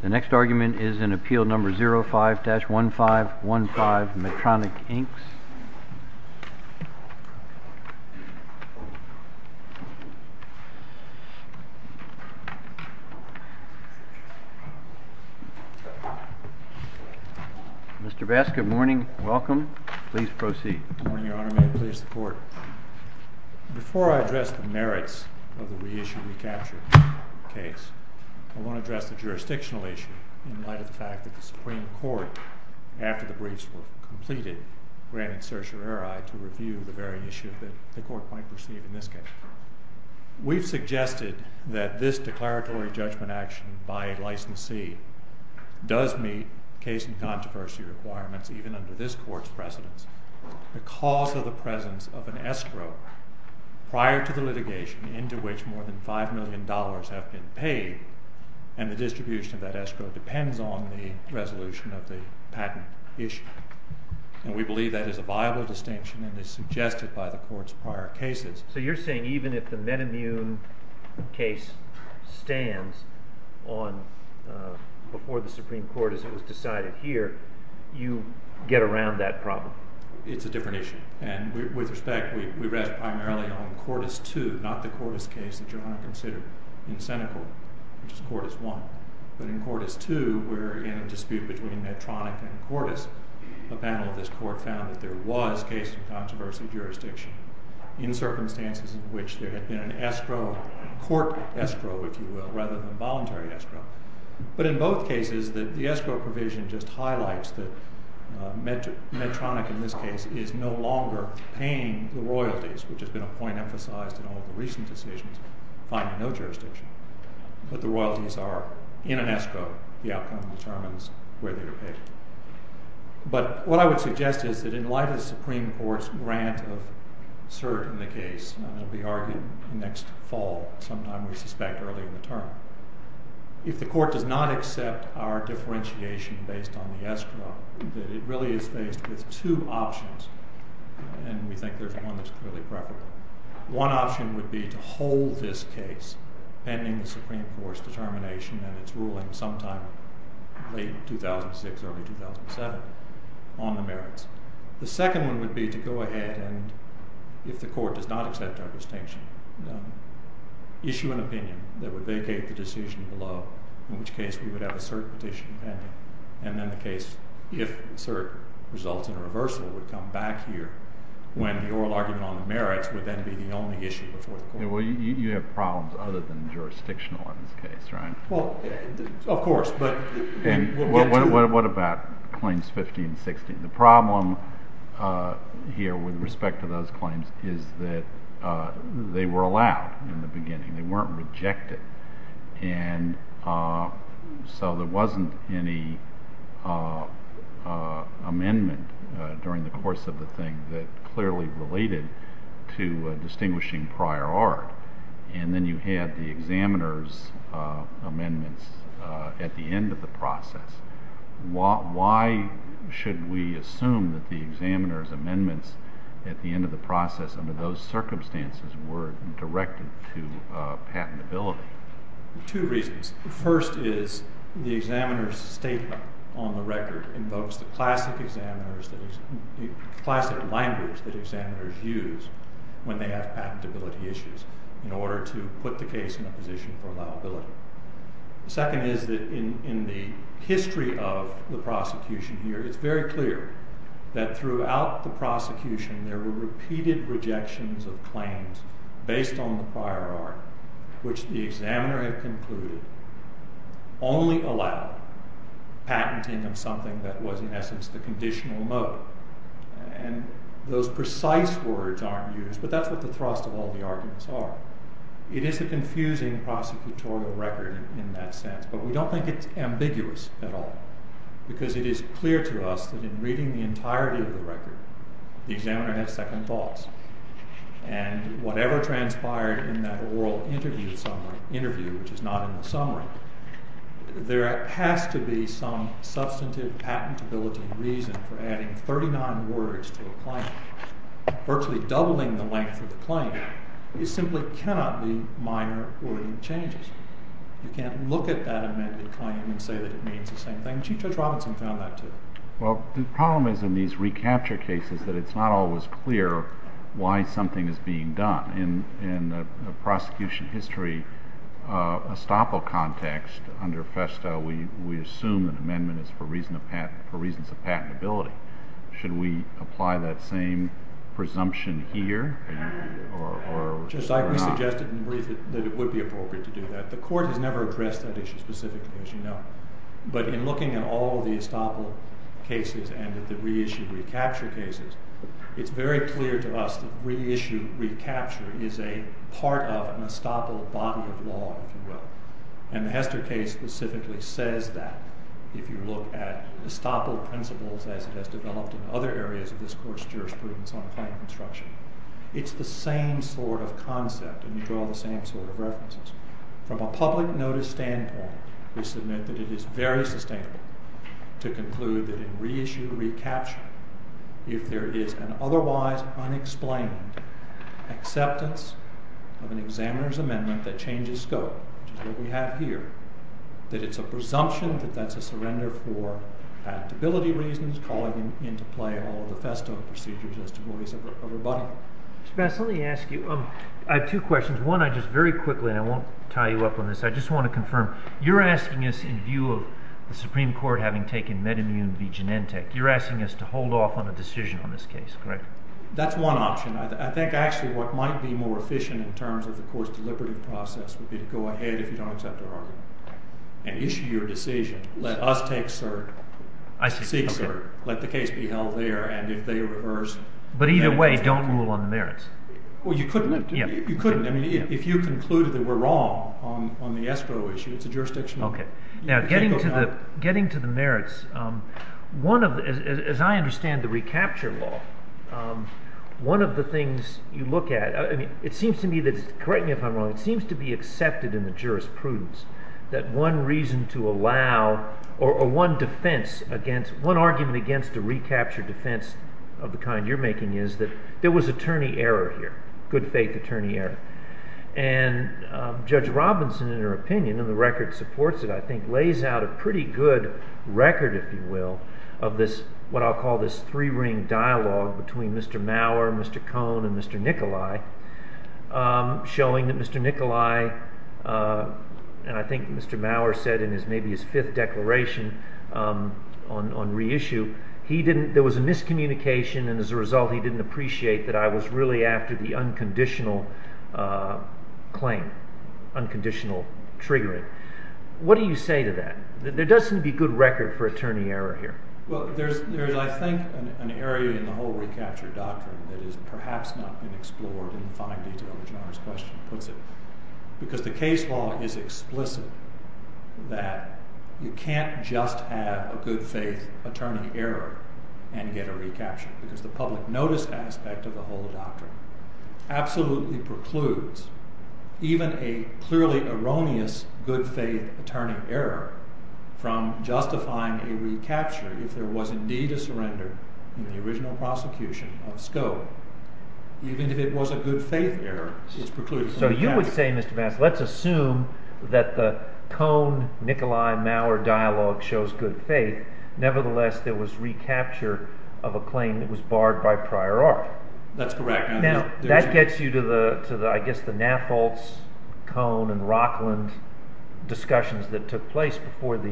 The next argument is in Appeal No. 05-1515, Metronic, Inc. Mr. Basket, good morning. Welcome. Please proceed. Good morning, Your Honor. May it please the Court. Before I address the merits of the reissue-recapture case, I want to address the jurisdictional issue in light of the fact that the Supreme Court, after the briefs were completed, granted certiorari to review the very issue that the Court might perceive in this case. We've suggested that this declaratory judgment action by a licensee does meet case and controversy requirements even under this Court's precedence. The cause of the presence of an escrow prior to the litigation into which more than $5 million have been paid and the distribution of that escrow depends on the resolution of the patent issue. And we believe that is a viable distinction and is suggested by the Court's prior cases. So you're saying even if the Medimmune case stands before the Supreme Court as it was decided here, you get around that problem? It's a different issue. And with respect, we rest primarily on Cortis II, not the Cortis case that you're going to consider in Senate Court, which is Cortis I. But in Cortis II, we're in a dispute between Medtronic and Cortis. A panel of this Court found that there was case and controversy jurisdiction in circumstances in which there had been an escrow, court escrow, if you will, rather than voluntary escrow. But in both cases, the escrow provision just highlights that Medtronic in this case is no longer paying the royalties, which has been a point emphasized in all of the recent decisions, finding no jurisdiction. But the royalties are in an escrow. The outcome determines whether you're paid. But what I would suggest is that in light of the Supreme Court's grant of cert in the case, and it will be argued next fall sometime, we suspect, early in the term, if the Court does not accept our differentiation based on the escrow, that it really is based with two options, and we think there's one that's clearly preferable. One option would be to hold this case pending the Supreme Court's determination and its ruling sometime late 2006, early 2007 on the merits. The second one would be to go ahead and, if the Court does not accept our distinction, issue an opinion that would vacate the decision below, in which case we would have a cert petition pending. And then the case, if cert results in a reversal, would come back here when the oral argument on the merits would then be the only issue before the Court. Well, you have problems other than jurisdictional in this case, right? Well, of course. And what about claims 15 and 16? The problem here with respect to those claims is that they were allowed in the beginning. They weren't rejected. And so there wasn't any amendment during the course of the thing that clearly related to distinguishing prior art. And then you had the examiner's amendments at the end of the process. Why should we assume that the examiner's amendments at the end of the process under those circumstances were directed to patentability? Two reasons. The first is the examiner's statement on the record invokes the classic line groups that examiners use when they have patentability issues in order to put the case in a position for liability. The second is that in the history of the prosecution here, it's very clear that throughout the prosecution there were repeated rejections of claims based on the prior art, which the examiner had concluded only allowed patenting of something that was in essence the conditional mode. And those precise words aren't used, but that's what the thrust of all the arguments are. It is a confusing prosecutorial record in that sense, but we don't think it's ambiguous at all. Because it is clear to us that in reading the entirety of the record, the examiner has second thoughts. And whatever transpired in that oral interview, which is not in the summary, there has to be some substantive patentability reason for adding 39 words to a claim. Virtually doubling the length of the claim simply cannot be minor wording changes. You can't look at that amended claim and say that it means the same thing. Chief Judge Robinson found that too. Well, the problem is in these recapture cases that it's not always clear why something is being done. In the prosecution history estoppel context under FESTA, we assume that amendment is for reasons of patentability. Should we apply that same presumption here? Just like we suggested in the brief that it would be appropriate to do that. The court has never addressed that issue specifically, as you know. But in looking at all the estoppel cases and at the reissue recapture cases, it's very clear to us that reissue recapture is a part of an estoppel body of law, if you will. And the Hester case specifically says that, if you look at estoppel principles as it has developed in other areas of this court's jurisprudence on claim construction. It's the same sort of concept, and you draw the same sort of references. From a public notice standpoint, we submit that it is very sustainable to conclude that in reissue recapture, if there is an otherwise unexplained acceptance of an examiner's amendment that changes scope, which is what we have here. That it's a presumption that that's a surrender for patentability reasons, calling into play all the FESTA procedures as to what is a rebuttal. Mr. Bass, let me ask you. I have two questions. One, I just very quickly, and I won't tie you up on this, I just want to confirm. You're asking us, in view of the Supreme Court having taken metamune v. Genentech, you're asking us to hold off on a decision on this case, correct? That's one option. I think, actually, what might be more efficient in terms of the court's deliberative process would be to go ahead, if you don't accept our argument, and issue your decision. Let us take cert. Let the case be held there. But either way, don't rule on the merits. Well, you couldn't. You couldn't. I mean, if you concluded that we're wrong on the escrow issue, it's a jurisdictional… Okay. Now, getting to the merits, as I understand the recapture law, one of the things you look at, I mean, it seems to me that, correct me if I'm wrong, it seems to be accepted in the jurisprudence that one reason to allow, or one defense against, one argument against a recapture defense of the kind you're making is that there was attorney error here, good faith attorney error. And Judge Robinson, in her opinion, and the record supports it, I think, lays out a pretty good record, if you will, of this, what I'll call this three-ring dialogue between Mr. Mauer, Mr. Cohn, and Mr. Nikolai, showing that Mr. Nikolai, and I think Mr. Mauer said in maybe his fifth declaration on reissue, there was a miscommunication, and as a result, he didn't appreciate that I was really after the unconditional claim, unconditional triggering. What do you say to that? There does seem to be good record for attorney error here. Well, there's, I think, an area in the whole recapture doctrine that has perhaps not been explored in fine detail, as the question puts it, because the case law is explicit that you can't just have a good faith attorney error and get a recapture, because the public notice aspect of the whole doctrine absolutely precludes even a clearly erroneous good faith attorney error from justifying a recapture if there was indeed a surrender in the original prosecution of Scope. Even if it was a good faith error, it's precluded. So you would say, Mr. Mast, let's assume that the Cohn-Nikolai-Mauer dialogue shows good faith. Nevertheless, there was recapture of a claim that was barred by prior art. That's correct. Now, that gets you to, I guess, the Nafoltz, Cohn, and Rockland discussions that took place before the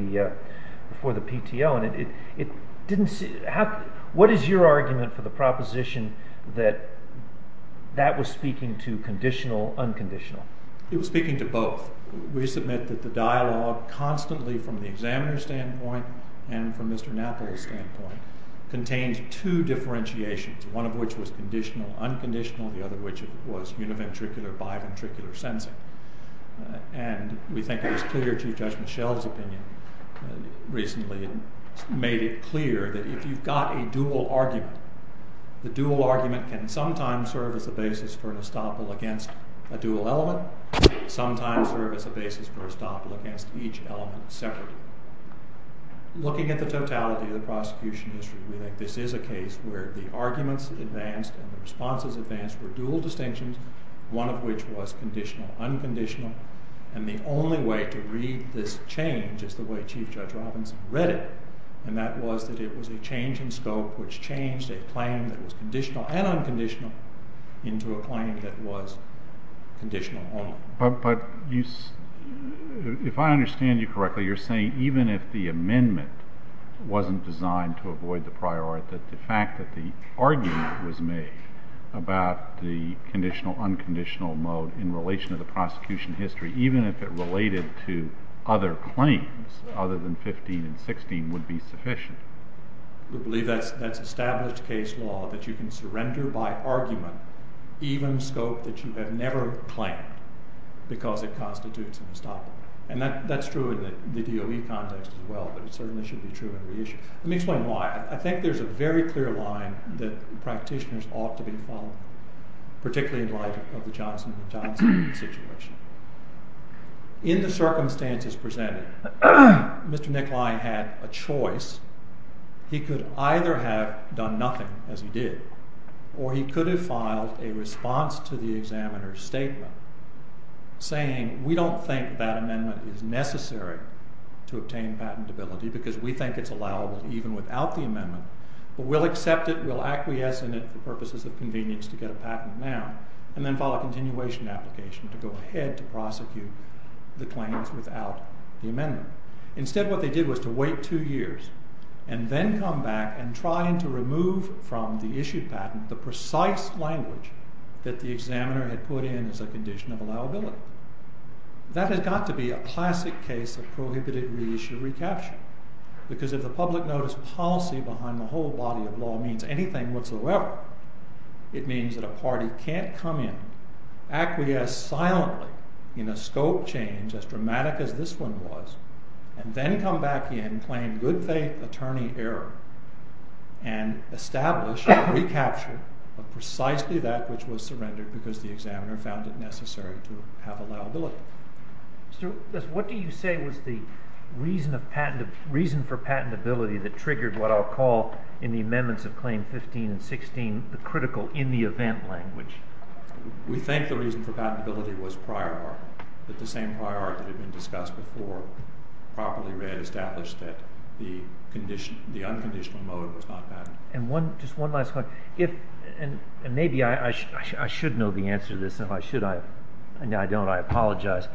PTO, and what is your argument for the proposition that that was speaking to conditional, unconditional? It was speaking to both. We submit that the dialogue constantly, from the examiner's standpoint and from Mr. Nafoltz's standpoint, contained two differentiations, one of which was conditional-unconditional, the other of which was univentricular-biventricular sensing. And we think it was clear Chief Judge Mischel's opinion recently made it clear that if you've got a dual argument, the dual argument can sometimes serve as a basis for an estoppel against a dual element, sometimes serve as a basis for an estoppel against each element separately. Looking at the totality of the prosecution history, we think this is a case where the arguments advanced and the responses advanced were dual distinctions, one of which was conditional-unconditional. And the only way to read this change is the way Chief Judge Robinson read it, and that was that it was a change in scope which changed a claim that was conditional and unconditional into a claim that was conditional only. But if I understand you correctly, you're saying even if the amendment wasn't designed to avoid the prior art, that the fact that the argument was made about the conditional-unconditional mode in relation to the prosecution history, even if it related to other claims other than 15 and 16, would be sufficient? We believe that's established case law, that you can surrender by argument even scope that you have never claimed because it constitutes an estoppel. And that's true in the DOE context as well, but it certainly should be true in re-issue. Let me explain why. I think there's a very clear line that practitioners ought to be following, particularly in light of the Johnson v. Johnson situation. In the circumstances presented, Mr. Nikolai had a choice. He could either have done nothing, as he did, or he could have filed a response to the examiner's statement saying we don't think that amendment is necessary to obtain patentability because we think it's allowable even without the amendment, but we'll accept it, we'll acquiesce in it for purposes of convenience to get a patent now, and then file a continuation application to go ahead to prosecute the claims without the amendment. Instead, what they did was to wait two years, and then come back and try to remove from the issued patent the precise language that the examiner had put in as a condition of allowability. That has got to be a classic case of prohibited re-issue recapture, because if the public notice policy behind the whole body of law means anything whatsoever, it means that a party can't come in, acquiesce silently in a scope change as dramatic as this one was, and then come back in, claim good faith attorney error, and establish a recapture of precisely that which was surrendered because the examiner found it necessary to have a patent. What do you say was the reason for patentability that triggered what I'll call in the amendments of Claim 15 and 16 the critical in-the-event language? We think the reason for patentability was prior art, that the same prior art that had been discussed before, properly read, established that the unconditional mode was not patentable. Just one last question. Maybe I should know the answer to this. If I should, I don't. I apologize.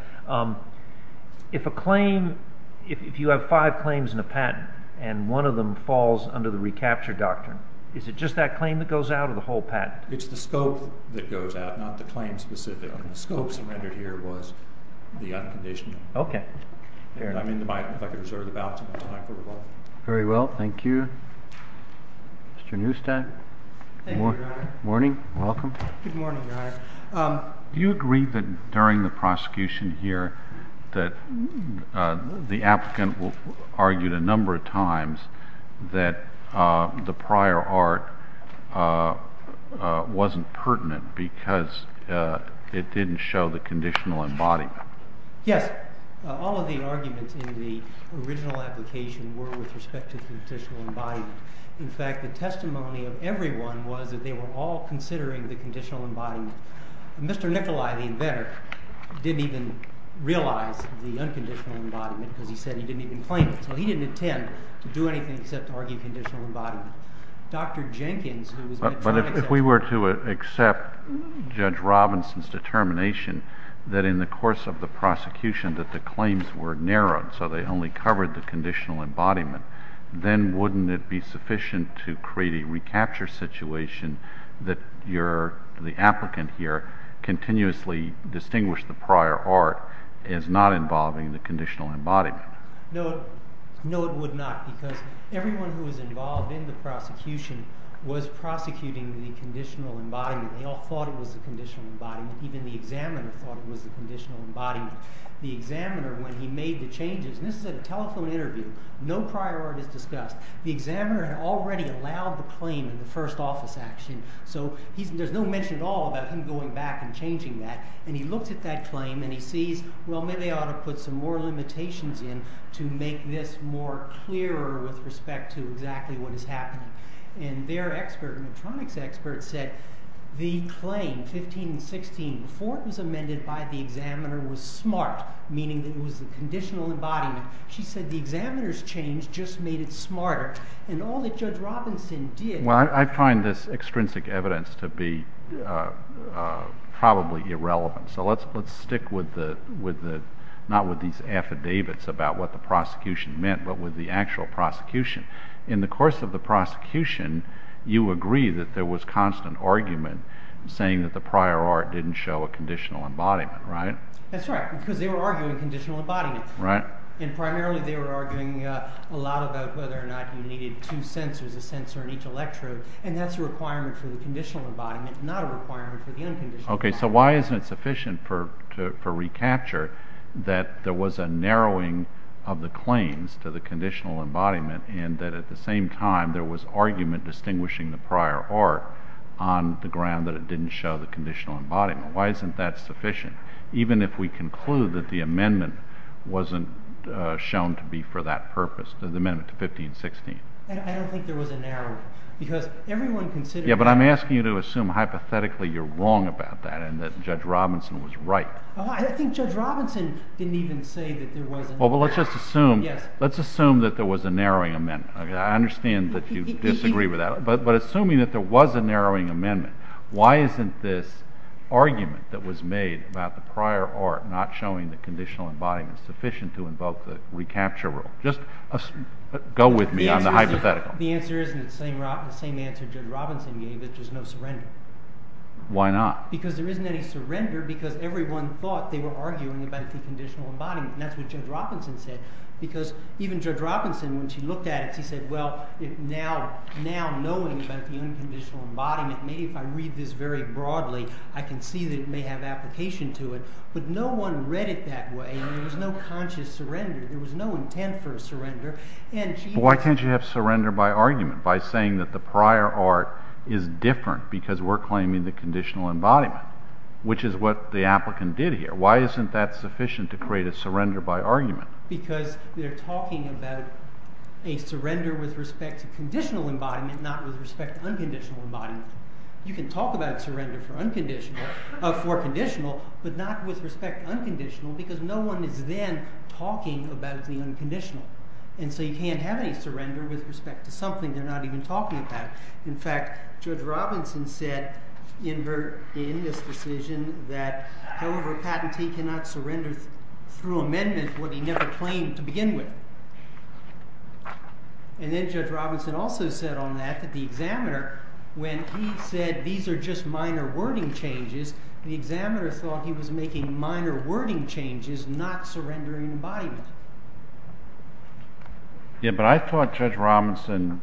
If you have five claims in a patent, and one of them falls under the recapture doctrine, is it just that claim that goes out, or the whole patent? It's the scope that goes out, not the claim specific. The scope surrendered here was the unconditional. Okay. If I could reserve the balance. Very well. Thank you. Mr. Neustadt? Thank you, Your Honor. Good morning. Welcome. Good morning, Your Honor. Do you agree that during the prosecution here that the applicant argued a number of times that the prior art wasn't pertinent because it didn't show the conditional embodiment? Yes. All of the arguments in the original application were with respect to conditional embodiment. In fact, the testimony of everyone was that they were all considering the conditional embodiment. Mr. Nicolai, the inventor, didn't even realize the unconditional embodiment because he said he didn't even claim it. So he didn't intend to do anything except argue conditional embodiment. But if we were to accept Judge Robinson's determination that in the course of the prosecution that the claims were narrowed, so they only covered the conditional embodiment, then wouldn't it be sufficient to create a recapture situation that the applicant here continuously distinguished the prior art as not involving the conditional embodiment? No, it would not because everyone who was involved in the prosecution was prosecuting the conditional embodiment. They all thought it was the conditional embodiment. Even the examiner thought it was the conditional embodiment. The examiner, when he made the changes, and this is at a telephone interview, no prior art is discussed. The examiner had already allowed the claim in the first office action, so there's no mention at all about him going back and changing that. And he looked at that claim and he sees, well, maybe I ought to put some more limitations in to make this more clearer with respect to exactly what is happening. And their expert, an electronics expert, said the claim, 15 and 16, before it was amended by the examiner was smart, meaning that it was the conditional embodiment. She said the examiner's change just made it smarter. And all that Judge Robinson did— So let's stick with the, not with these affidavits about what the prosecution meant, but with the actual prosecution. In the course of the prosecution, you agree that there was constant argument saying that the prior art didn't show a conditional embodiment, right? That's right, because they were arguing conditional embodiment. And primarily they were arguing a lot about whether or not you needed two sensors, a sensor in each electrode, and that's a requirement for the conditional embodiment, not a requirement for the unconditional embodiment. Okay, so why isn't it sufficient for recapture that there was a narrowing of the claims to the conditional embodiment and that at the same time there was argument distinguishing the prior art on the ground that it didn't show the conditional embodiment? Why isn't that sufficient, even if we conclude that the amendment wasn't shown to be for that purpose, the amendment to 15 and 16? I don't think there was a narrowing, because everyone considered— Yeah, but I'm asking you to assume hypothetically you're wrong about that and that Judge Robinson was right. I think Judge Robinson didn't even say that there was— Well, let's just assume— Yes. Let's assume that there was a narrowing amendment. I understand that you disagree with that, but assuming that there was a narrowing amendment, why isn't this argument that was made about the prior art not showing the conditional embodiment sufficient to invoke the recapture rule? Just go with me on the hypothetical. The answer isn't the same answer Judge Robinson gave, which is no surrender. Why not? Because there isn't any surrender, because everyone thought they were arguing about the conditional embodiment, and that's what Judge Robinson said, because even Judge Robinson, when she looked at it, she said, well, now knowing about the unconditional embodiment, maybe if I read this very broadly, I can see that it may have application to it, but no one read it that way, and there was no conscious surrender. There was no intent for a surrender, and she— But why can't you have surrender by argument, by saying that the prior art is different because we're claiming the conditional embodiment, which is what the applicant did here? Why isn't that sufficient to create a surrender by argument? Because they're talking about a surrender with respect to conditional embodiment, not with respect to unconditional embodiment. You can talk about surrender for conditional, but not with respect to unconditional, because no one is then talking about the unconditional, and so you can't have a surrender with respect to something they're not even talking about. In fact, Judge Robinson said in this decision that, however, a patentee cannot surrender through amendment what he never claimed to begin with. And then Judge Robinson also said on that that the examiner, when he said these are just minor wording changes, the examiner thought he was making minor wording changes, not surrendering embodiment. Yeah, but I thought Judge Robinson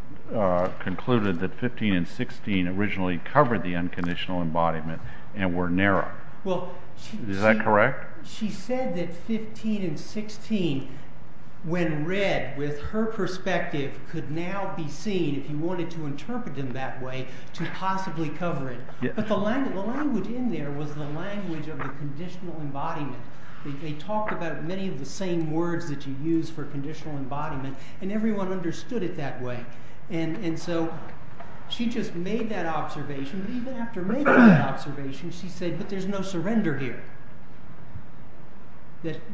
concluded that 15 and 16 originally covered the unconditional embodiment and were narrow. Is that correct? She said that 15 and 16, when read with her perspective, could now be seen, if you wanted to interpret them that way, to possibly cover it. But the language in there was the language of the conditional embodiment. They talked about many of the same words that you use for conditional embodiment, and everyone understood it that way. And so she just made that observation, and even after making that observation, she said, but there's no surrender here.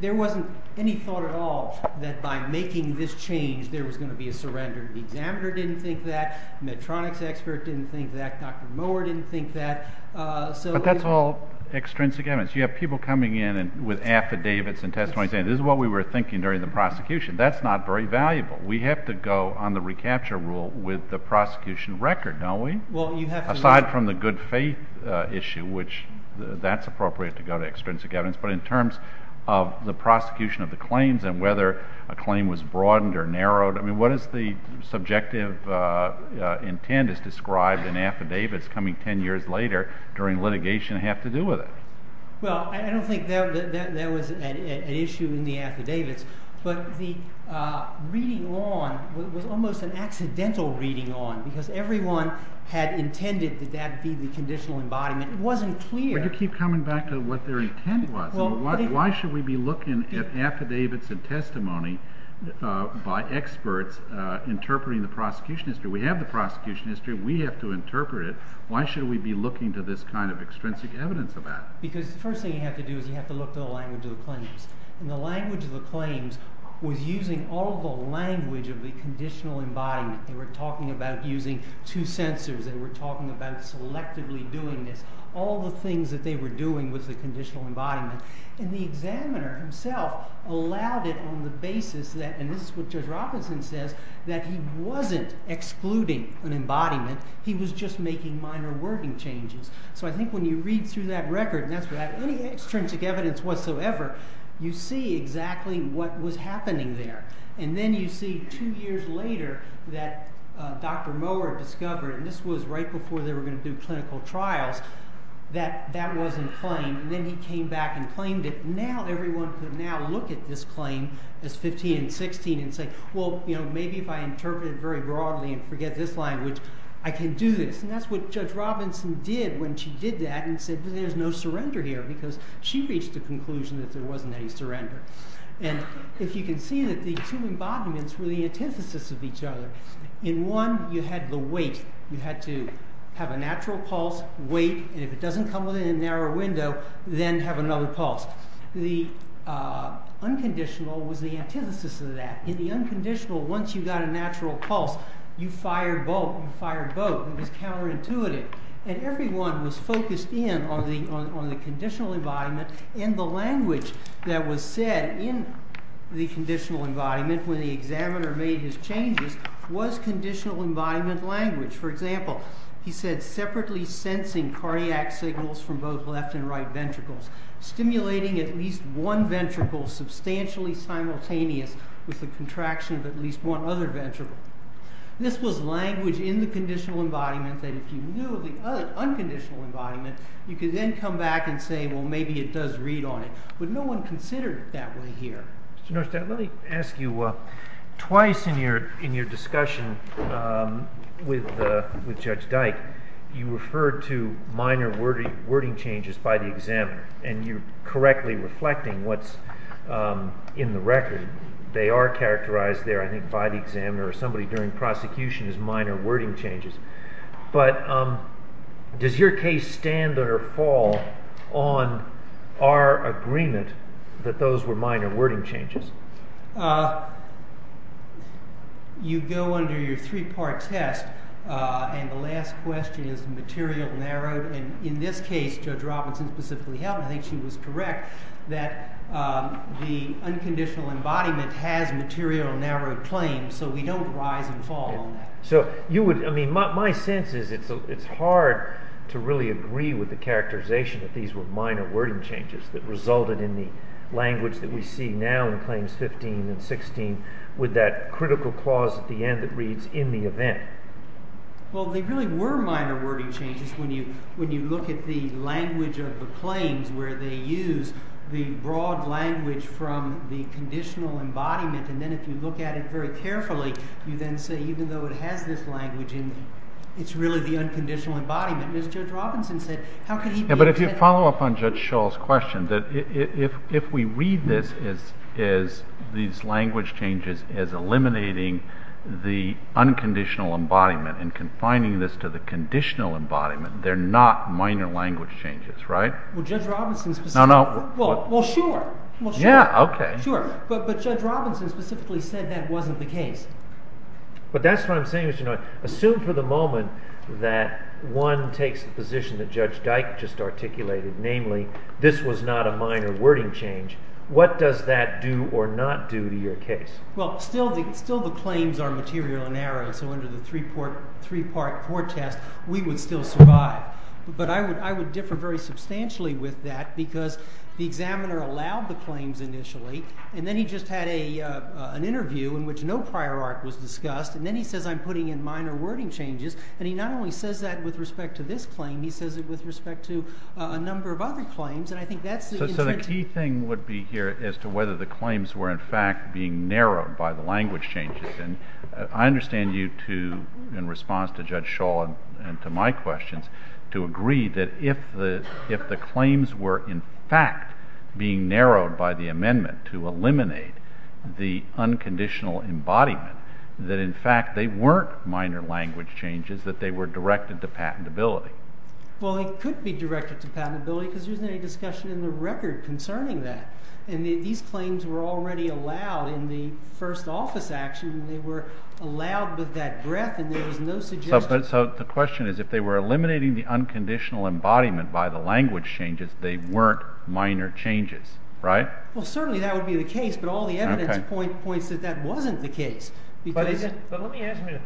There wasn't any thought at all that by making this change there was going to be a surrender. The examiner didn't think that, the Medtronics expert didn't think that, Dr. Moore didn't think that. But that's all extrinsic evidence. You have people coming in with affidavits and testimonies saying this is what we were thinking during the prosecution. That's not very valuable. We have to go on the recapture rule with the prosecution record, don't we? Aside from the good faith issue, which that's appropriate to go to extrinsic evidence. But in terms of the prosecution of the claims and whether a claim was broadened or narrowed, what is the subjective intent as described in affidavits coming 10 years later during litigation have to do with it? Well, I don't think there was an issue in the affidavits, but the reading on was almost an accidental reading on because everyone had intended that that be the conditional embodiment. It wasn't clear. You keep coming back to what their intent was. Why should we be looking at affidavits and testimony by experts interpreting the prosecution history? We have the prosecution history. We have to interpret it. Why should we be looking to this kind of extrinsic evidence about it? Because the first thing you have to do is you have to look at the language of the claims. And the language of the claims was using all the language of the conditional embodiment. They were talking about using two sensors. They were talking about selectively doing this. All the things that they were doing was the conditional embodiment. And the examiner himself allowed it on the basis that, and this is what Judge Robinson says, that he wasn't excluding an embodiment. He was just making minor wording changes. So I think when you read through that record, and that's without any extrinsic evidence whatsoever, you see exactly what was happening there. And then you see two years later that Dr. Mohler discovered, and this was right before they were going to do clinical trials, that that wasn't claimed. And then he came back and claimed it. Now everyone could now look at this claim as 15 and 16 and say, well, maybe if I interpret it very broadly and forget this language, I can do this. And that's what Judge Robinson did when she did that and said, there's no surrender here, because she reached the conclusion that there wasn't any surrender. And if you can see that the two embodiments were the antithesis of each other. In one, you had the weight. You had to have a natural pulse, weight, and if it doesn't come within a narrow window, then have another pulse. The unconditional was the antithesis of that. In the unconditional, once you got a natural pulse, you fired both. It was counterintuitive. And everyone was focused in on the conditional embodiment and the language that was said in the conditional embodiment when the examiner made his changes was conditional embodiment language. For example, he said, separately sensing cardiac signals from both left and right ventricles, stimulating at least one ventricle substantially simultaneous with the contraction of at least one other ventricle. This was language in the conditional embodiment that if you knew the unconditional embodiment, you could then come back and say, well, maybe it does read on it. But no one considered it that way here. Mr. Norshteyn, let me ask you, twice in your discussion with Judge Dyke, you referred to minor wording changes by the examiner. And you're correctly reflecting what's in the record. They are characterized there, I think, by the examiner or somebody during prosecution as minor wording changes. But does your case stand or fall on our agreement that those were minor wording changes? You go under your three-part test. And the last question is material, narrowed. And in this case, Judge Robinson specifically helped. I think she was correct that the unconditional embodiment has material, narrowed claims. So we don't rise and fall on that. So my sense is it's hard to really agree with the characterization that these were minor wording changes that resulted in the language that we see now in claims 15 and 16 with that critical clause at the end that reads, in the event. Well, they really were minor wording changes when you look at the language of the claims where they use the broad language from the conditional embodiment. And then if you look at it very carefully, you then say, even though it has this language in it, it's really the unconditional embodiment. But if you follow up on Judge Schall's question, that if we read this as these language changes as eliminating the unconditional embodiment and confining this to the conditional embodiment, they're not minor language changes, right? Well, Judge Robinson specifically. No, no. Well, sure. Yeah, OK. Sure. But Judge Robinson specifically said that wasn't the case. But that's what I'm saying. Assume for the moment that one takes the position that Judge Dyke just articulated, namely, this was not a minor wording change. What does that do or not do to your case? Well, still the claims are material and narrow. So under the three-part test, we would still survive. But I would differ very substantially with that because the examiner allowed the claims initially. And then he just had an interview in which no prior art was discussed. And then he says, I'm putting in minor wording changes. And he not only says that with respect to this claim, he says it with respect to a number of other claims. And I think that's the intent. The key thing would be here as to whether the claims were, in fact, being narrowed by the language changes. And I understand you, in response to Judge Shaw and to my questions, to agree that if the claims were, in fact, being narrowed by the amendment to eliminate the unconditional embodiment, that, in fact, they weren't minor language changes, that they were directed to patentability. Well, they could be directed to patentability because there's no discussion in the record concerning that. And these claims were already allowed in the first office action. And they were allowed with that breadth. And there was no suggestion. So the question is, if they were eliminating the unconditional embodiment by the language changes, they weren't minor changes, right? Well, certainly that would be the case. But all the evidence points that that wasn't the case. But let me ask you a minute.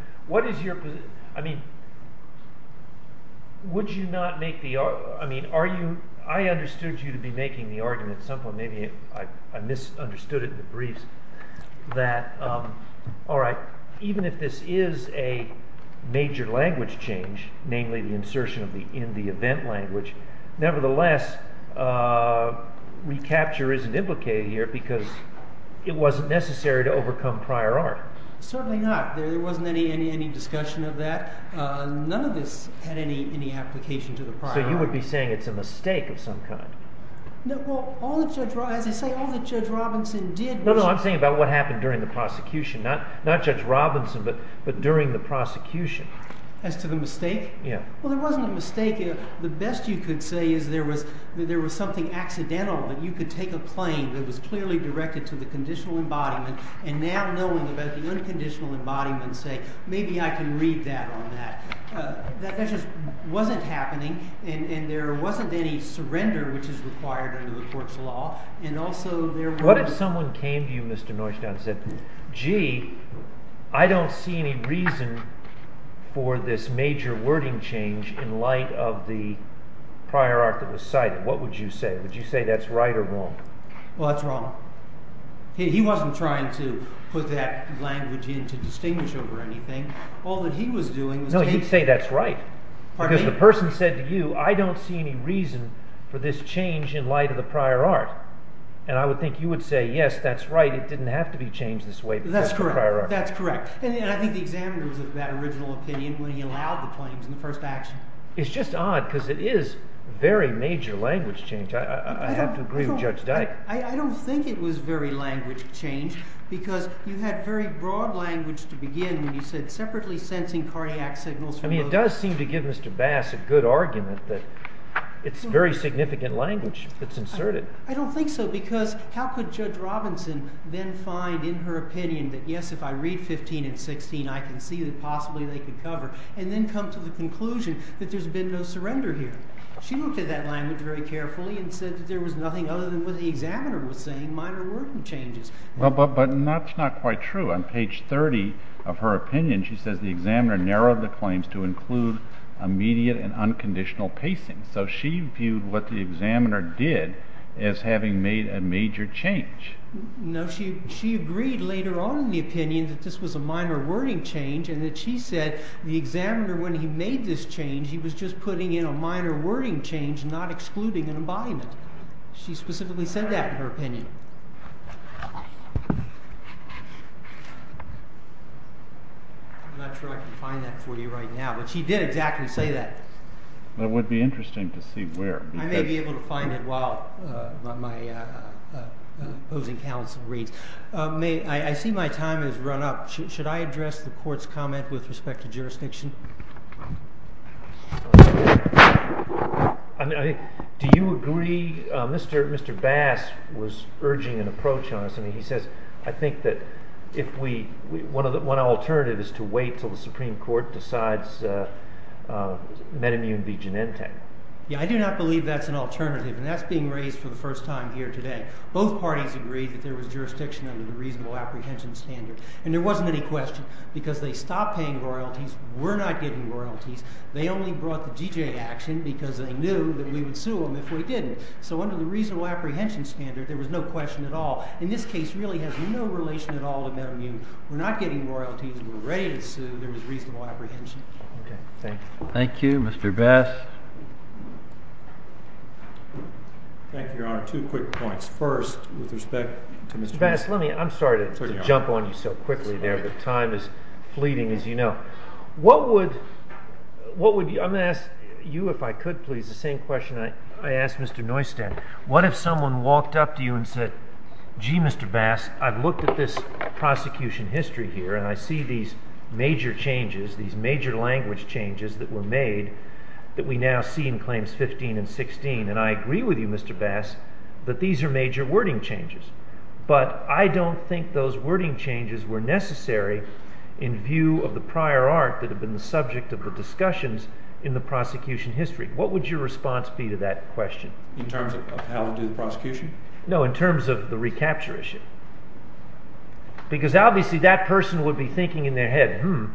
I understood you to be making the argument at some point. Maybe I misunderstood it in the briefs that, all right, even if this is a major language change, namely the insertion in the event language, nevertheless, recapture isn't implicated here because it wasn't necessary to overcome prior art. Certainly not. There wasn't any discussion of that. None of this had any application to the prior art. So you would be saying it's a mistake of some kind? No. Well, as I say, all that Judge Robinson did was— No, no. I'm saying about what happened during the prosecution, not Judge Robinson, but during the prosecution. As to the mistake? Yeah. Well, there wasn't a mistake. The best you could say is there was something accidental that you could take a claim that was clearly directed to the conditional embodiment, and now knowing about the unconditional embodiment, say, maybe I can read that on that. That just wasn't happening. And there wasn't any surrender, which is required under the court's law. And also there was— What if someone came to you, Mr. Neustadt, and said, gee, I don't see any reason for this major wording change in light of the prior art that was cited? What would you say? Would you say that's right or wrong? Well, that's wrong. He wasn't trying to put that language in to distinguish over anything. All that he was doing was taking— That's correct. That's correct. And I think the examiner was of that original opinion when he allowed the claims in the first action. It's just odd because it is very major language change. I have to agree with Judge Dyke. I don't think it was very language change because you had very broad language to begin when you said separately sensing cardiac signals from— I mean, it does seem to give Mr. Bass a good argument that it's very significant language that's inserted. I don't think so because how could Judge Robinson then find in her opinion that, yes, if I read 15 and 16, I can see that possibly they can cover, and then come to the conclusion that there's been no surrender here? She looked at that language very carefully and said that there was nothing other than what the examiner was saying, minor wording changes. But that's not quite true. On page 30 of her opinion, she says the examiner narrowed the claims to include immediate and unconditional pacing. So she viewed what the examiner did as having made a major change. No, she agreed later on in the opinion that this was a minor wording change and that she said the examiner, when he made this change, he was just putting in a minor wording change, not excluding an embodiment. She specifically said that in her opinion. I'm not sure I can find that for you right now, but she did exactly say that. It would be interesting to see where. I may be able to find it while my opposing counsel reads. I see my time has run up. Should I address the court's comment with respect to jurisdiction? Do you agree? Mr. Bass was urging an approach on this, and he says, I think that one alternative is to wait until the Supreme Court decides metamnium v. genente. Yeah, I do not believe that's an alternative, and that's being raised for the first time here today. Both parties agreed that there was jurisdiction under the reasonable apprehension standard. And there wasn't any question, because they stopped paying royalties, were not getting royalties, they only brought the GJ action because they knew that we would sue them if we didn't. So under the reasonable apprehension standard, there was no question at all. And this case really has no relation at all to metamnium. We're not getting royalties, we're ready to sue, there was reasonable apprehension. Thank you, Mr. Bass. Thank you, Your Honor. Two quick points. First, with respect to Mr. Bass. Bass, let me, I'm sorry to jump on you so quickly there, but time is fleeting, as you know. What would, what would, I'm going to ask you if I could, please, the same question I asked Mr. Neustadt. What if someone walked up to you and said, gee, Mr. Bass, I've looked at this prosecution history here and I see these major changes, these major language changes that were made that we now see in Claims 15 and 16. And I agree with you, Mr. Bass, that these are major wording changes. But I don't think those wording changes were necessary in view of the prior art that had been the subject of the discussions in the prosecution history. What would your response be to that question? In terms of how to do the prosecution? No, in terms of the recapture issue. Because obviously that person would be thinking in their head, hmm,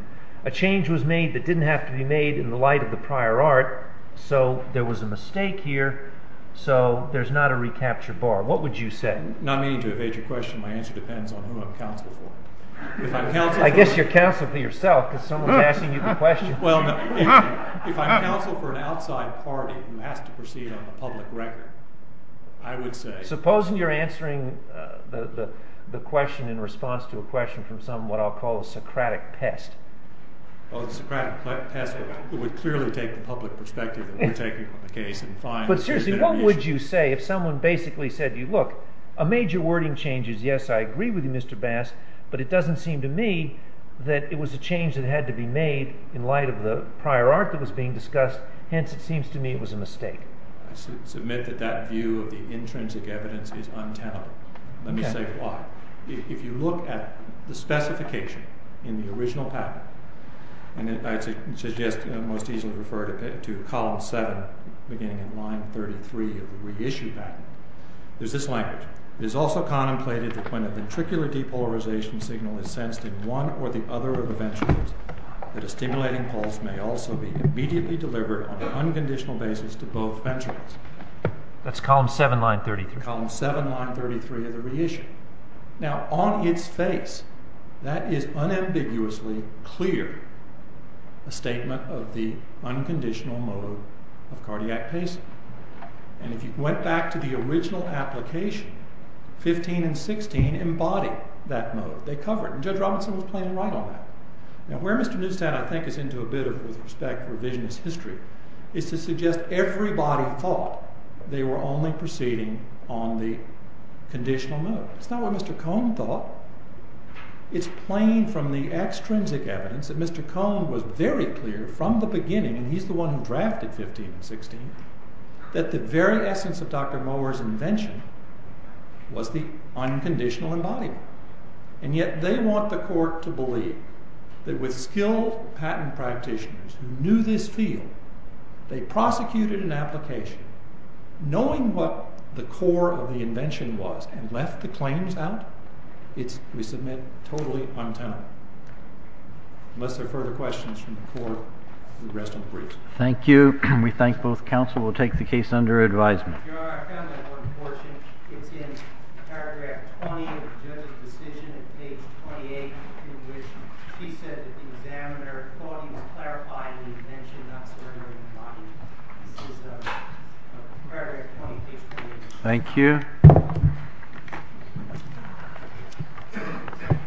a change was made that didn't have to be made in the light of the prior art, so there was a mistake here, so there's not a recapture bar. What would you say? Not meaning to evade your question, my answer depends on who I'm counsel for. I guess you're counsel for yourself, because someone's asking you the question. If I'm counsel for an outside party who has to proceed on a public record, I would say— Supposing you're answering the question in response to a question from some, what I'll call, a Socratic pest. Oh, the Socratic pest would clearly take the public perspective that we're taking from the case and find— But seriously, what would you say if someone basically said to you, look, a major wording change is yes, I agree with you, Mr. Bass, but it doesn't seem to me that it was a change that had to be made in light of the prior art that was being discussed, hence it seems to me it was a mistake. I submit that that view of the intrinsic evidence is untenable. Let me say why. If you look at the specification in the original patent, and I suggest most easily refer to column 7 beginning in line 33 of the reissue patent, there's this language. It is also contemplated that when a ventricular depolarization signal is sensed in one or the other of the ventricles, that a stimulating pulse may also be immediately delivered on an unconditional basis to both ventricles. That's column 7, line 33. That's column 7, line 33 of the reissue. Now, on its face, that is unambiguously clear, a statement of the unconditional mode of cardiac pacing. And if you went back to the original application, 15 and 16 embody that mode. They cover it, and Judge Robinson was plain right on that. Now, where Mr. Newstown, I think, is into a bit of, with respect to revisionist history, is to suggest everybody thought they were only proceeding on the conditional mode. It's not what Mr. Cone thought. It's plain from the extrinsic evidence that Mr. Cone was very clear from the beginning, and he's the one who drafted 15 and 16, that the very essence of Dr. Mower's invention was the unconditional embodiment. And yet, they want the court to believe that with skilled patent practitioners who knew this field, they prosecuted an application, knowing what the core of the invention was, and left the claims out? It's, we submit, totally untenable. Unless there are further questions from the court, we rest in peace. Thank you. We thank both counsel. We'll take the case under advisement. Your Honor, I found that one portion. It's in paragraph 20 of the judge's decision, at page 28, in which she said that the examiner thought he was clarifying the invention, not surrendering the body. This is paragraph 20, page 28. Thank you.